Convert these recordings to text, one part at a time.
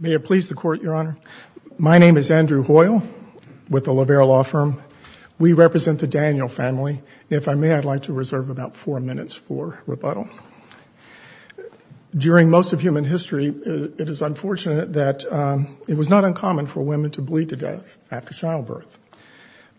May it please the Court, Your Honor. My name is Andrew Hoyle with the Lavera Law Firm. We represent the Daniel family. If I may, I'd like to reserve about four minutes for rebuttal. During most of human history, it is unfortunate that it was not uncommon for women to bleed to death after childbirth.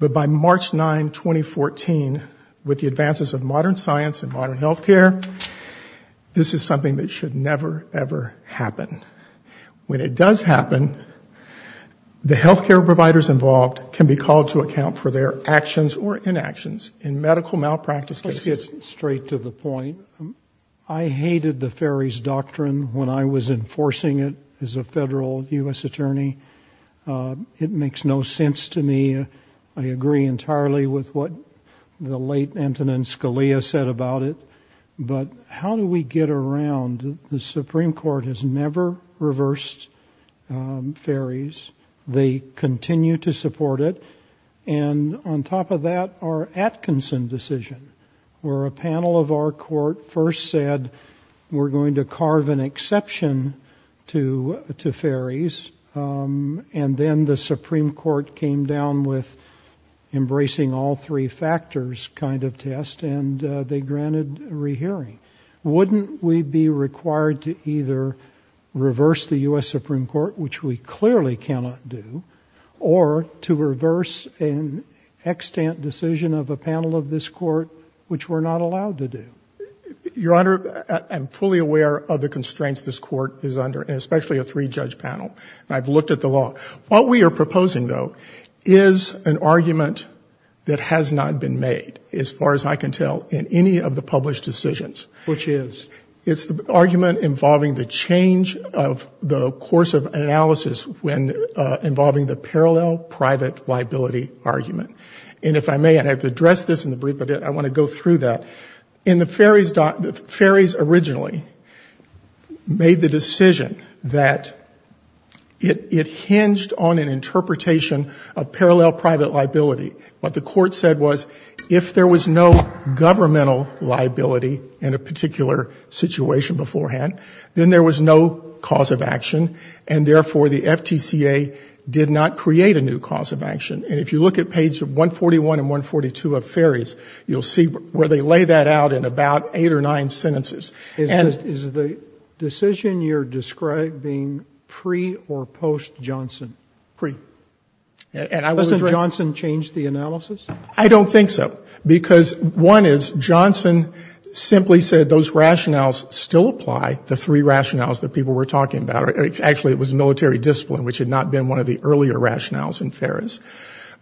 But by March 9, 2014, with the advances of modern science and modern healthcare, this is something that should never, ever happen. When it does happen, the healthcare providers involved can be called to account for their actions or inactions in medical malpractice cases. Let's get straight to the point. I hated the Ferry's Doctrine when I was enforcing it as a federal U.S. attorney. It makes no sense to me. I agree entirely with what the late But how do we get around? The Supreme Court has never reversed Ferry's. They continue to support it. And on top of that, our Atkinson decision, where a panel of our court first said we're going to carve an exception to Ferry's. And then the Supreme Court came down with embracing all three factors kind of test, and they granted a rehearing. Wouldn't we be required to either reverse the U.S. Supreme Court, which we clearly cannot do, or to reverse an extant decision of a panel of this court, which we're not allowed to do? Your Honor, I'm fully aware of the constraints this court is under, and especially a three It's an argument that has not been made, as far as I can tell, in any of the published decisions. Which is? It's the argument involving the change of the course of analysis involving the parallel private liability argument. And if I may, and I have to address this in the brief, but I want to go through that. In the Ferry's Doctrine, Ferry's originally made the decision that it hinged on an interpretation of parallel private liability. What the court said was, if there was no governmental liability in a particular situation beforehand, then there was no cause of action, and therefore the FTCA did not create a new cause of action. And if you look at page 141 and 142 of Ferry's, you'll see where they lay that out in about eight or nine sentences. Is the decision you're describing pre or post Johnson? Pre. Wasn't Johnson changed the analysis? I don't think so. Because one is, Johnson simply said those rationales still apply, the three rationales that people were talking about. Actually, it was military discipline, which had not been one of the earlier rationales in Ferry's.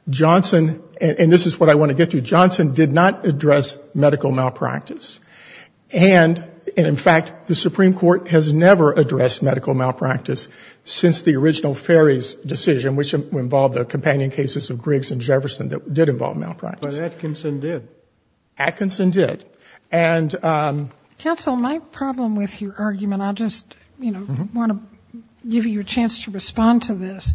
Johnson, and this is what I want to get to, Johnson did not address medical malpractice. And in fact, the Supreme Court has never addressed medical malpractice since the original Ferry's decision, which involved the companion cases of Griggs and Jefferson that did involve malpractice. But Atkinson did. Atkinson did. Counsel, my problem with your argument, I just want to give you a chance to respond to this.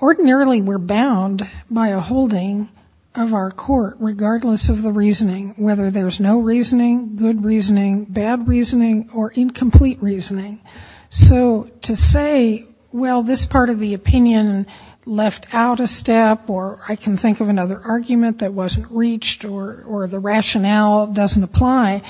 Ordinarily, we're bound by a holding of our court, regardless of the reasoning, whether there's no reasoning, good reasoning, bad reasoning, or incomplete reasoning. So to say, well, this part of the opinion left out a step, or I can think of another argument that wasn't reached, or the rationale doesn't apply,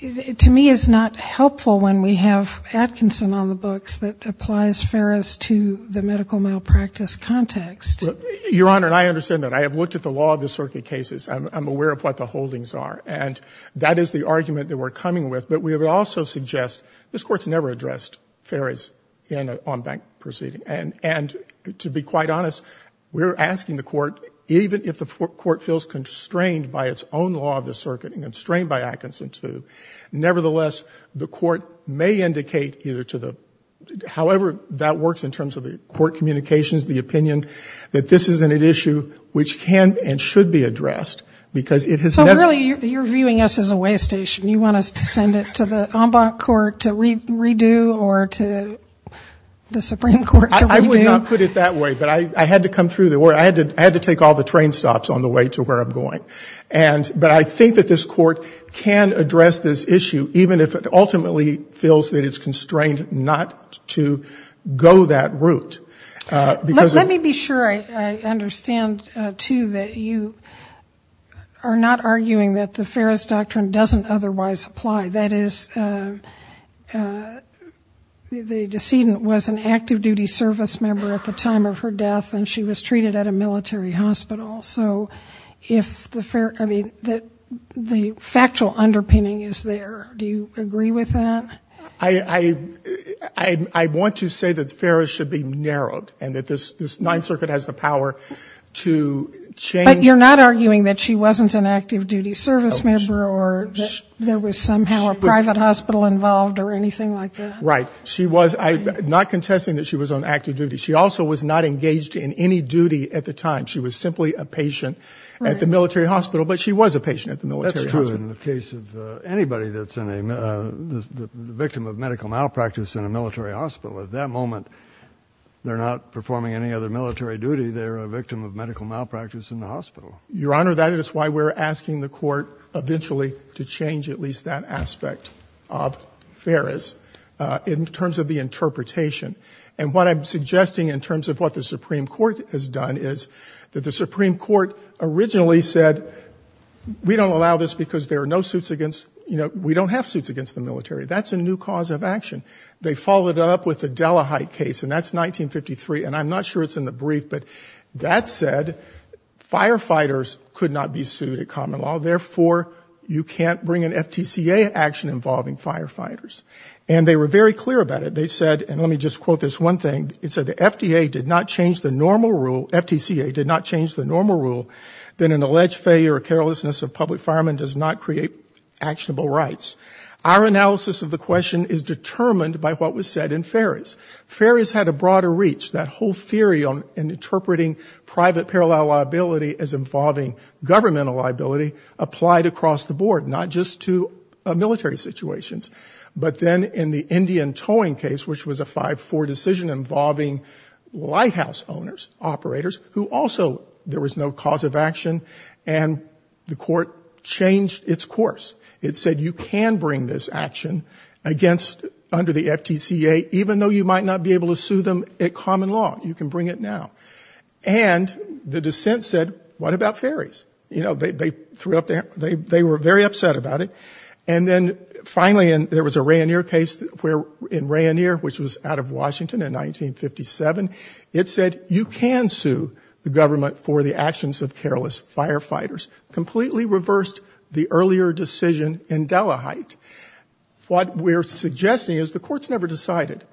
to me is not helpful when we have Atkinson on the books that applies Ferris to the medical malpractice context. Your Honor, I understand that. I have looked at the law of the circuit cases. I'm aware of what the holdings are. And that is the argument that we're coming with. But we would also suggest this Court's never addressed Ferris in an en banc proceeding. And to be quite honest, we're asking the Court, even if the Court feels constrained by its own law of the circuit and constrained by Atkinson's move, nevertheless, the Court may indicate either to the, however that works in terms of the Court communications, the opinion, that this isn't an issue which can and should be addressed. So really you're viewing us as a way station. You want us to send it to the en banc court to redo, or to the Supreme Court to redo? I would not put it that way. But I had to come through. I had to take all the train stops on the way to where I'm going. But I think that this Court can address this issue, even if it ultimately feels that it's constrained not to go that route. Let me be sure I understand, too, that you are not arguing that the Ferris doctrine doesn't otherwise apply. That is, the decedent was an active duty service member at the time of her death and she was treated at a military hospital. So if the, I mean, the factual underpinning is there. Do you agree with that? I, I, I want to say that Ferris should be narrowed and that this Ninth Circuit has the power to change. But you're not arguing that she wasn't an active duty service member or that there was somehow a private hospital involved or anything like that? Right. She was, I'm not contesting that she was on active duty. She also was not engaged in any duty at the time. She was simply a patient at the military hospital. But she was a patient at the military hospital. That's true in the case of anybody that's in a, the victim of medical malpractice in a military hospital. At that moment, they're not performing any other military duty. They're a victim of medical malpractice in the hospital. Your Honor, that is why we're asking the Court eventually to change at least that aspect of Ferris in terms of the interpretation. And what I'm suggesting in terms of what the Supreme Court has done is that the Supreme Court originally said, we don't allow this because there are no suits against, you know, we don't have suits against the military. That's a new cause of action. They followed it up with the Della Height case, and that's 1953. And I'm not sure it's in the brief, but that said, firefighters could not be sued at common law. Therefore, you can't bring an FTCA action involving firefighters. And they were very clear about it. They said, and let me just quote this one thing. It said, the FDA did not change the normal rule, FTCA did not change the normal rule that an alleged failure or carelessness of public firemen does not create actionable rights. Our analysis of the question is determined by what was said in Ferris. Ferris had a broader reach. That whole theory in interpreting private parallel liability as involving governmental liability applied across the board, not just to military situations. But then in the Indian towing case, which was a 5-4 decision involving lighthouse owners, operators, who also, there was no cause of action, and the court changed its course. It said, you can bring this action against, under the FTCA, even though you might not be able to sue them at common law. You can bring it now. And the dissent said, what about Ferris? You know, they threw up their, they were very upset about it. And then finally, there was a Rainier case where, in Rainier, which was out of Washington in 1957, it said, you can sue the government for the actions of careless firefighters. Completely reversed the earlier decision in Della Height. What we're suggesting is the court's never decided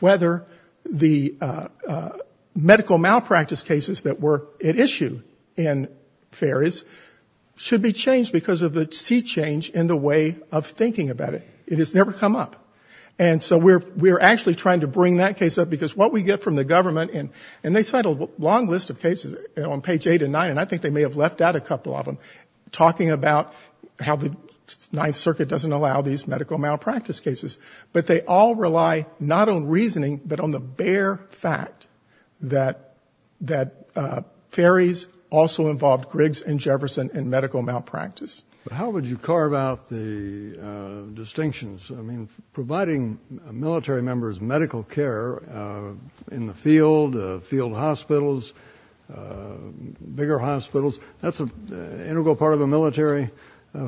whether the medical malpractice cases that were at issue in Ferris should be changed because of the sea change in the way of thinking about it. It has never come up. And so we're actually trying to bring that case up because what we get from the government, and they cite a long list of cases on page 8 and 9, and I think they may have left out a couple of them, talking about how the Ninth Circuit doesn't allow these medical malpractice cases. But they all rely not on reasoning, but on the bare fact that Ferris also involved Griggs and Jefferson in medical malpractice. How would you carve out the distinctions? I mean, providing military members medical care in the field, field hospitals, bigger hospitals, that's an integral part of the military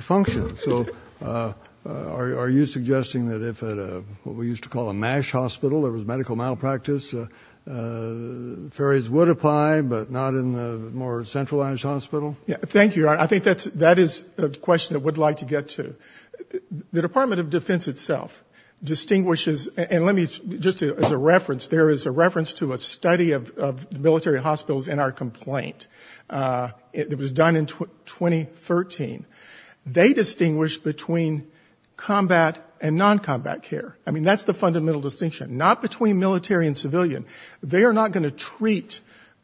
function. So are you suggesting that if at what we used to call a MASH hospital that was medical malpractice, Ferris would apply, but not in the more centralized hospital? Thank you. I think that is a question I would like to get to. The Department of Defense itself distinguishes, and let me just as a reference, there is a reference to a study of military hospitals in our complaint. It was done in 2013. They distinguish between combat and non-combat care. I mean, that's the fundamental distinction. Not between military and civilian. They are not going to treat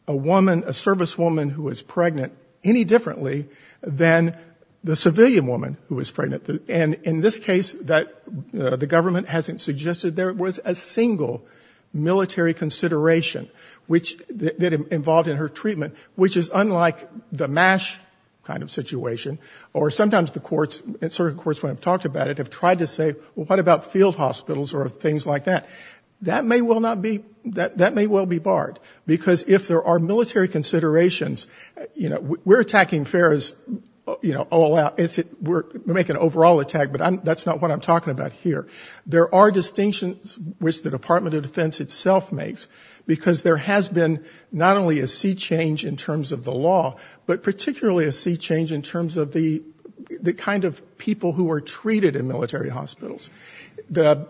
a woman, a service woman who is pregnant any differently than the civilian woman who is pregnant. And in this case, the government hasn't suggested there was a single military consideration that involved in her treatment, which is unlike the MASH kind of situation. Or sometimes the courts, certain courts when I've talked about it, have tried to say, well, what about field hospitals or things like that? That may well be barred. Because if there are military considerations, we're attacking Ferris all out. We're making an overall attack, but that's not what I'm talking about here. There are distinctions which the Department of Defense itself makes, because there has been not only a sea change in terms of the law, but particularly a sea change in terms of the kind of people who are treated in military hospitals. The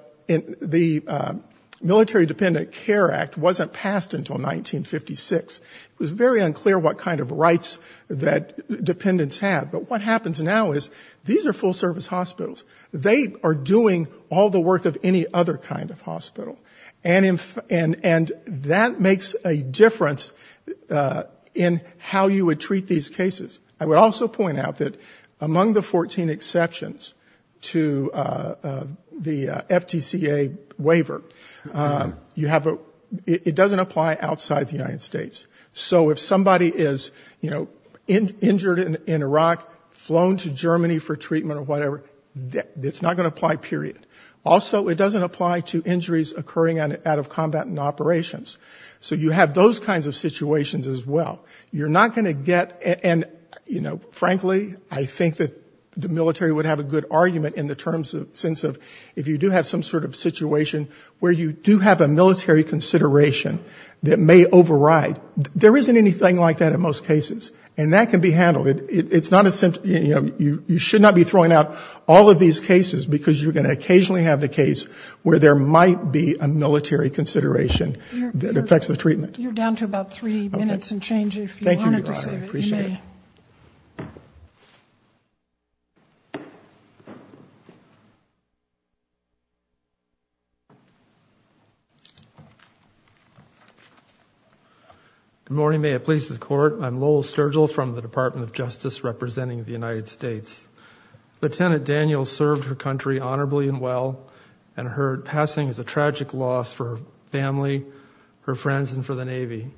Military Dependent Care Act wasn't passed until 1956. It was very unclear what kind of rights that dependents had. But what happens now is these are full service hospitals. They are doing all the work of any other kind of hospital. And that makes a difference in how you would treat these cases. I would also point out that among the 14 exceptions to the FTCA waiver, you have a, it doesn't apply outside the United States. So if somebody is, you know, injured in Iraq, flown to Germany for treatment or whatever, it's not going to apply, period. Also, it doesn't apply to injuries occurring out of combatant operations. So you have those kinds of situations as well. You're not going to get, and, you know, frankly, I think that the military would have a good argument in the terms of, sense of, if you do have some sort of situation where you do have a military consideration that may override, there isn't anything like that in most cases. And that can be handled. It's not a, you know, you should not be throwing out all of these cases because you're going to occasionally have the case where there might be a military consideration that affects the treatment. You're down to about three minutes and change if you wanted to say. Good morning, may it please the court. I'm Lowell Sturgill from the Department of Justice representing the United States. Lieutenant Daniels served her country honorably and well and her passing is a tragic loss for her family, her friends, and for the Navy.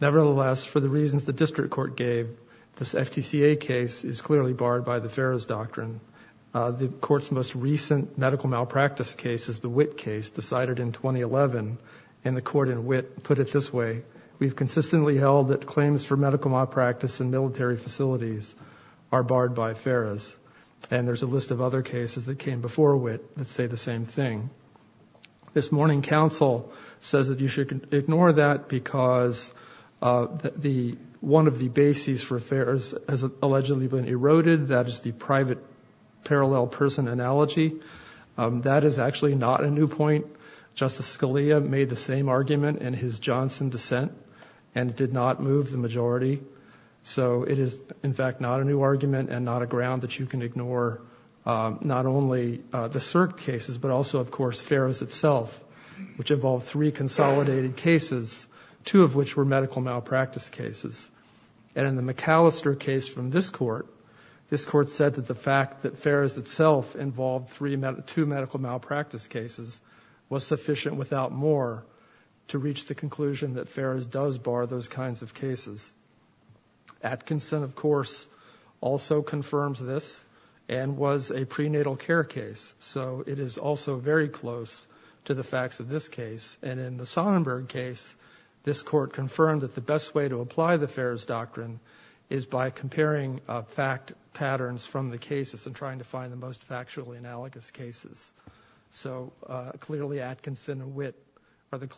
Nevertheless, for the reasons the district court gave, this FTCA case is clearly barred by the Ferris Doctrine. The court's most recent medical malpractice case is the Witt case decided in 2011 and the court in Witt put it this way, we've consistently held that claims for medical malpractice in military facilities are barred by Ferris. And there's a list of other cases that came before Witt that say the same thing. This morning, counsel says that you should ignore that because one of the bases for affairs has allegedly been eroded. That is the private parallel person analogy. That is actually not a new point. Justice Scalia made the same argument in his Johnson dissent and did not move the majority. So it is, in fact, not a new argument and not a ground that you can ignore not only the cert cases but also, of course, Ferris itself, which involved three consolidated cases, two of which were medical malpractice cases. And in the McAllister case from this court, this court said that the fact that Ferris itself involved two medical malpractice cases was sufficient without more to reach the conclusion that Ferris does bar those kinds of cases. Atkinson, of course, also confirms this and was a prenatal care case. So it is also very close to the facts of this case. And in the Sonnenberg case, this court confirmed that the best way to apply the Ferris doctrine is by comparing fact patterns from the cases and trying to find the most factually analogous cases. So clearly Atkinson and Witt are the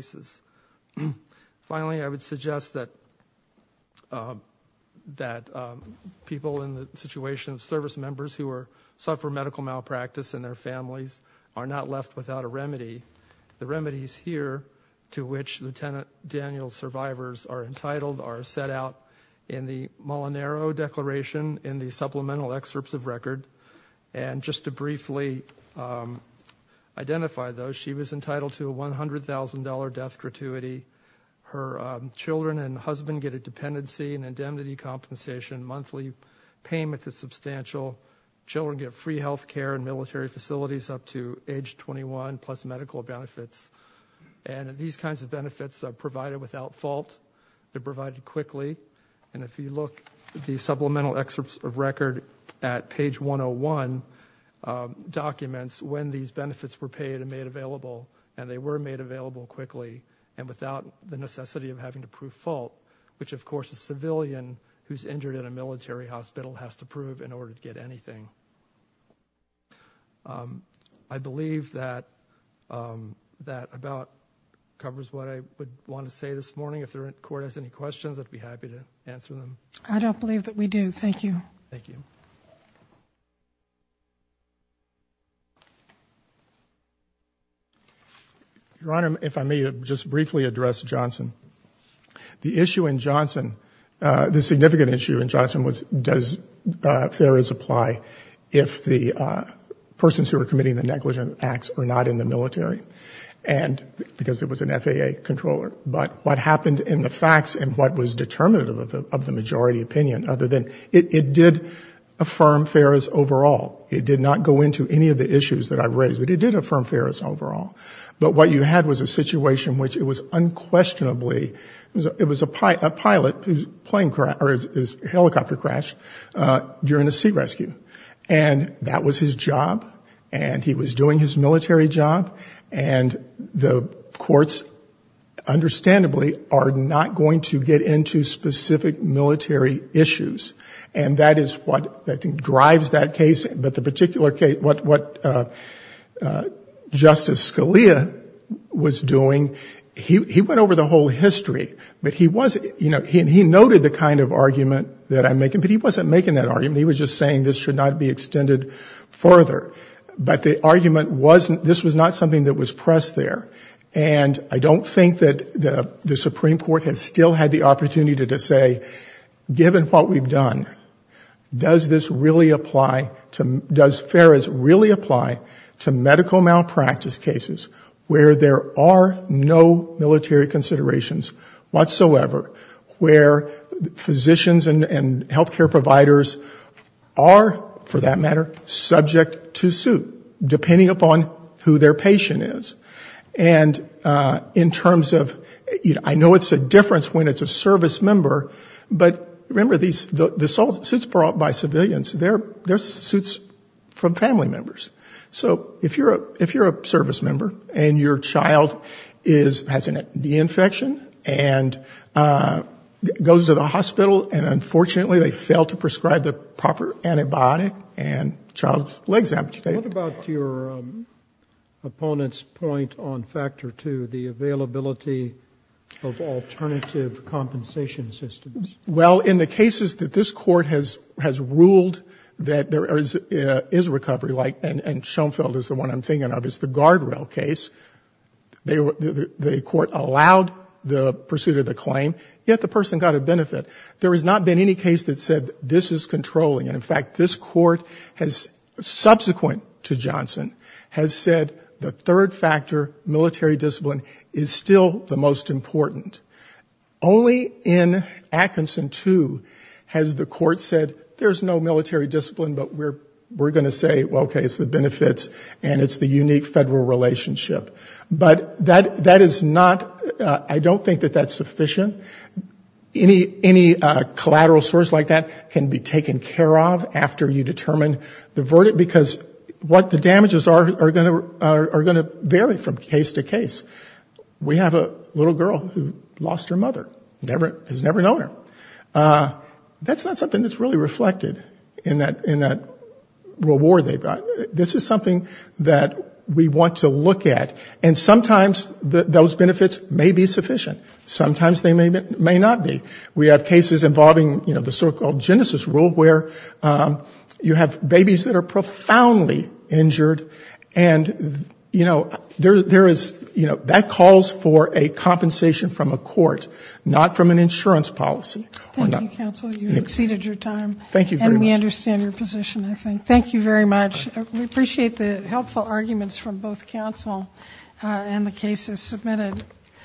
same. Finally, I would suggest that people in the situation of service members who suffer medical malpractice and their families are not left without a remedy. The remedies here to which Lieutenant Daniel's survivors are entitled are set out in the Molinaro Declaration in the supplemental excerpts of record. And just to briefly identify those, she was entitled to a $100,000 death gratuity. Her children and husband get a dependency and indemnity compensation. Monthly payment is substantial. Children get free health care and military facilities up to age 21 plus medical benefits. And these kinds of benefits are provided without fault. They're provided quickly. And if you look at the supplemental excerpts of record at page 101 documents, when these benefits were paid and made available, and they were made available quickly and without the necessity of having to prove fault, which of course a civilian who's injured in a military hospital has to prove in order to get anything. I believe that that about covers what I would want to say this morning. If the court has any questions, I'd be happy to answer them. I don't believe that we do. Thank you. Thank you. Your Honor, if I may just briefly address Johnson. The issue in Johnson, the significant issue in Johnson was, does FARIS apply if the persons who are committing the negligent acts are not in the military? And because it was an FAA controller. But what happened in the facts and what was determinative of the majority opinion other than it did affirm FARIS overall. It did not go into any of the issues that I've raised, but it did affirm FARIS overall. But what you had was a situation which it was unquestionably, it was a pilot whose helicopter crashed during a sea rescue. And that was his job. And he was doing his job not going to get into specific military issues. And that is what I think drives that case. But the particular case, what Justice Scalia was doing, he went over the whole history, but he was, you know, he noted the kind of argument that I'm making, but he wasn't making that argument. He was just saying this should not be extended further. But the argument wasn't, this was not something that was pressed there. And I don't think that the Supreme Court has still had the opportunity to say, given what we've done, does this really apply to, does FARIS really apply to medical malpractice cases where there are no military considerations whatsoever, where physicians and healthcare providers are, for that matter, subject to suit, depending upon who their patient is. And in terms of, you know, I know it's a difference when it's a service member, but remember, the suits brought by civilians, they're suits from family members. So if you're a service member and your child has a knee infection and goes to the hospital and unfortunately they fail to prescribe the proper antibiotic and the child's legs amputated. What about your opponent's point on factor two, the availability of alternative compensation systems? Well, in the cases that this Court has ruled that there is a recovery like, and Schoenfeld is the one I'm thinking of, is the guardrail case. They were, the Court allowed the pursuit of the claim, yet the person got a benefit. There has not been any case that said this is controlling. And in fact, this Court has, subsequent to Johnson, has said the third factor, military discipline, is still the most important. Only in Atkinson 2 has the Court said there's no military discipline, but we're going to say, well, okay, it's the benefits and it's the unique federal relationship. But that is not, I don't think that that's sufficient. Any collateral source like that can be taken care of after you determine the verdict, because what the damages are going to vary from case to case. We have a little girl who lost her mother, has never known her. That's not something that's really reflected in that reward they've got. This is something that we want to look at. And sometimes those benefits may be sufficient. Sometimes they may not be. We have cases involving, you know, the so-called genesis rule, where you have babies that are profoundly injured and, you know, there is, you know, that calls for a compensation from a court, not from an insurance policy. Thank you, counsel. You've exceeded your time. Thank you very much. And we understand your position, I think. Thank you very much. We appreciate the helpful arguments from both counsel and the cases submitted.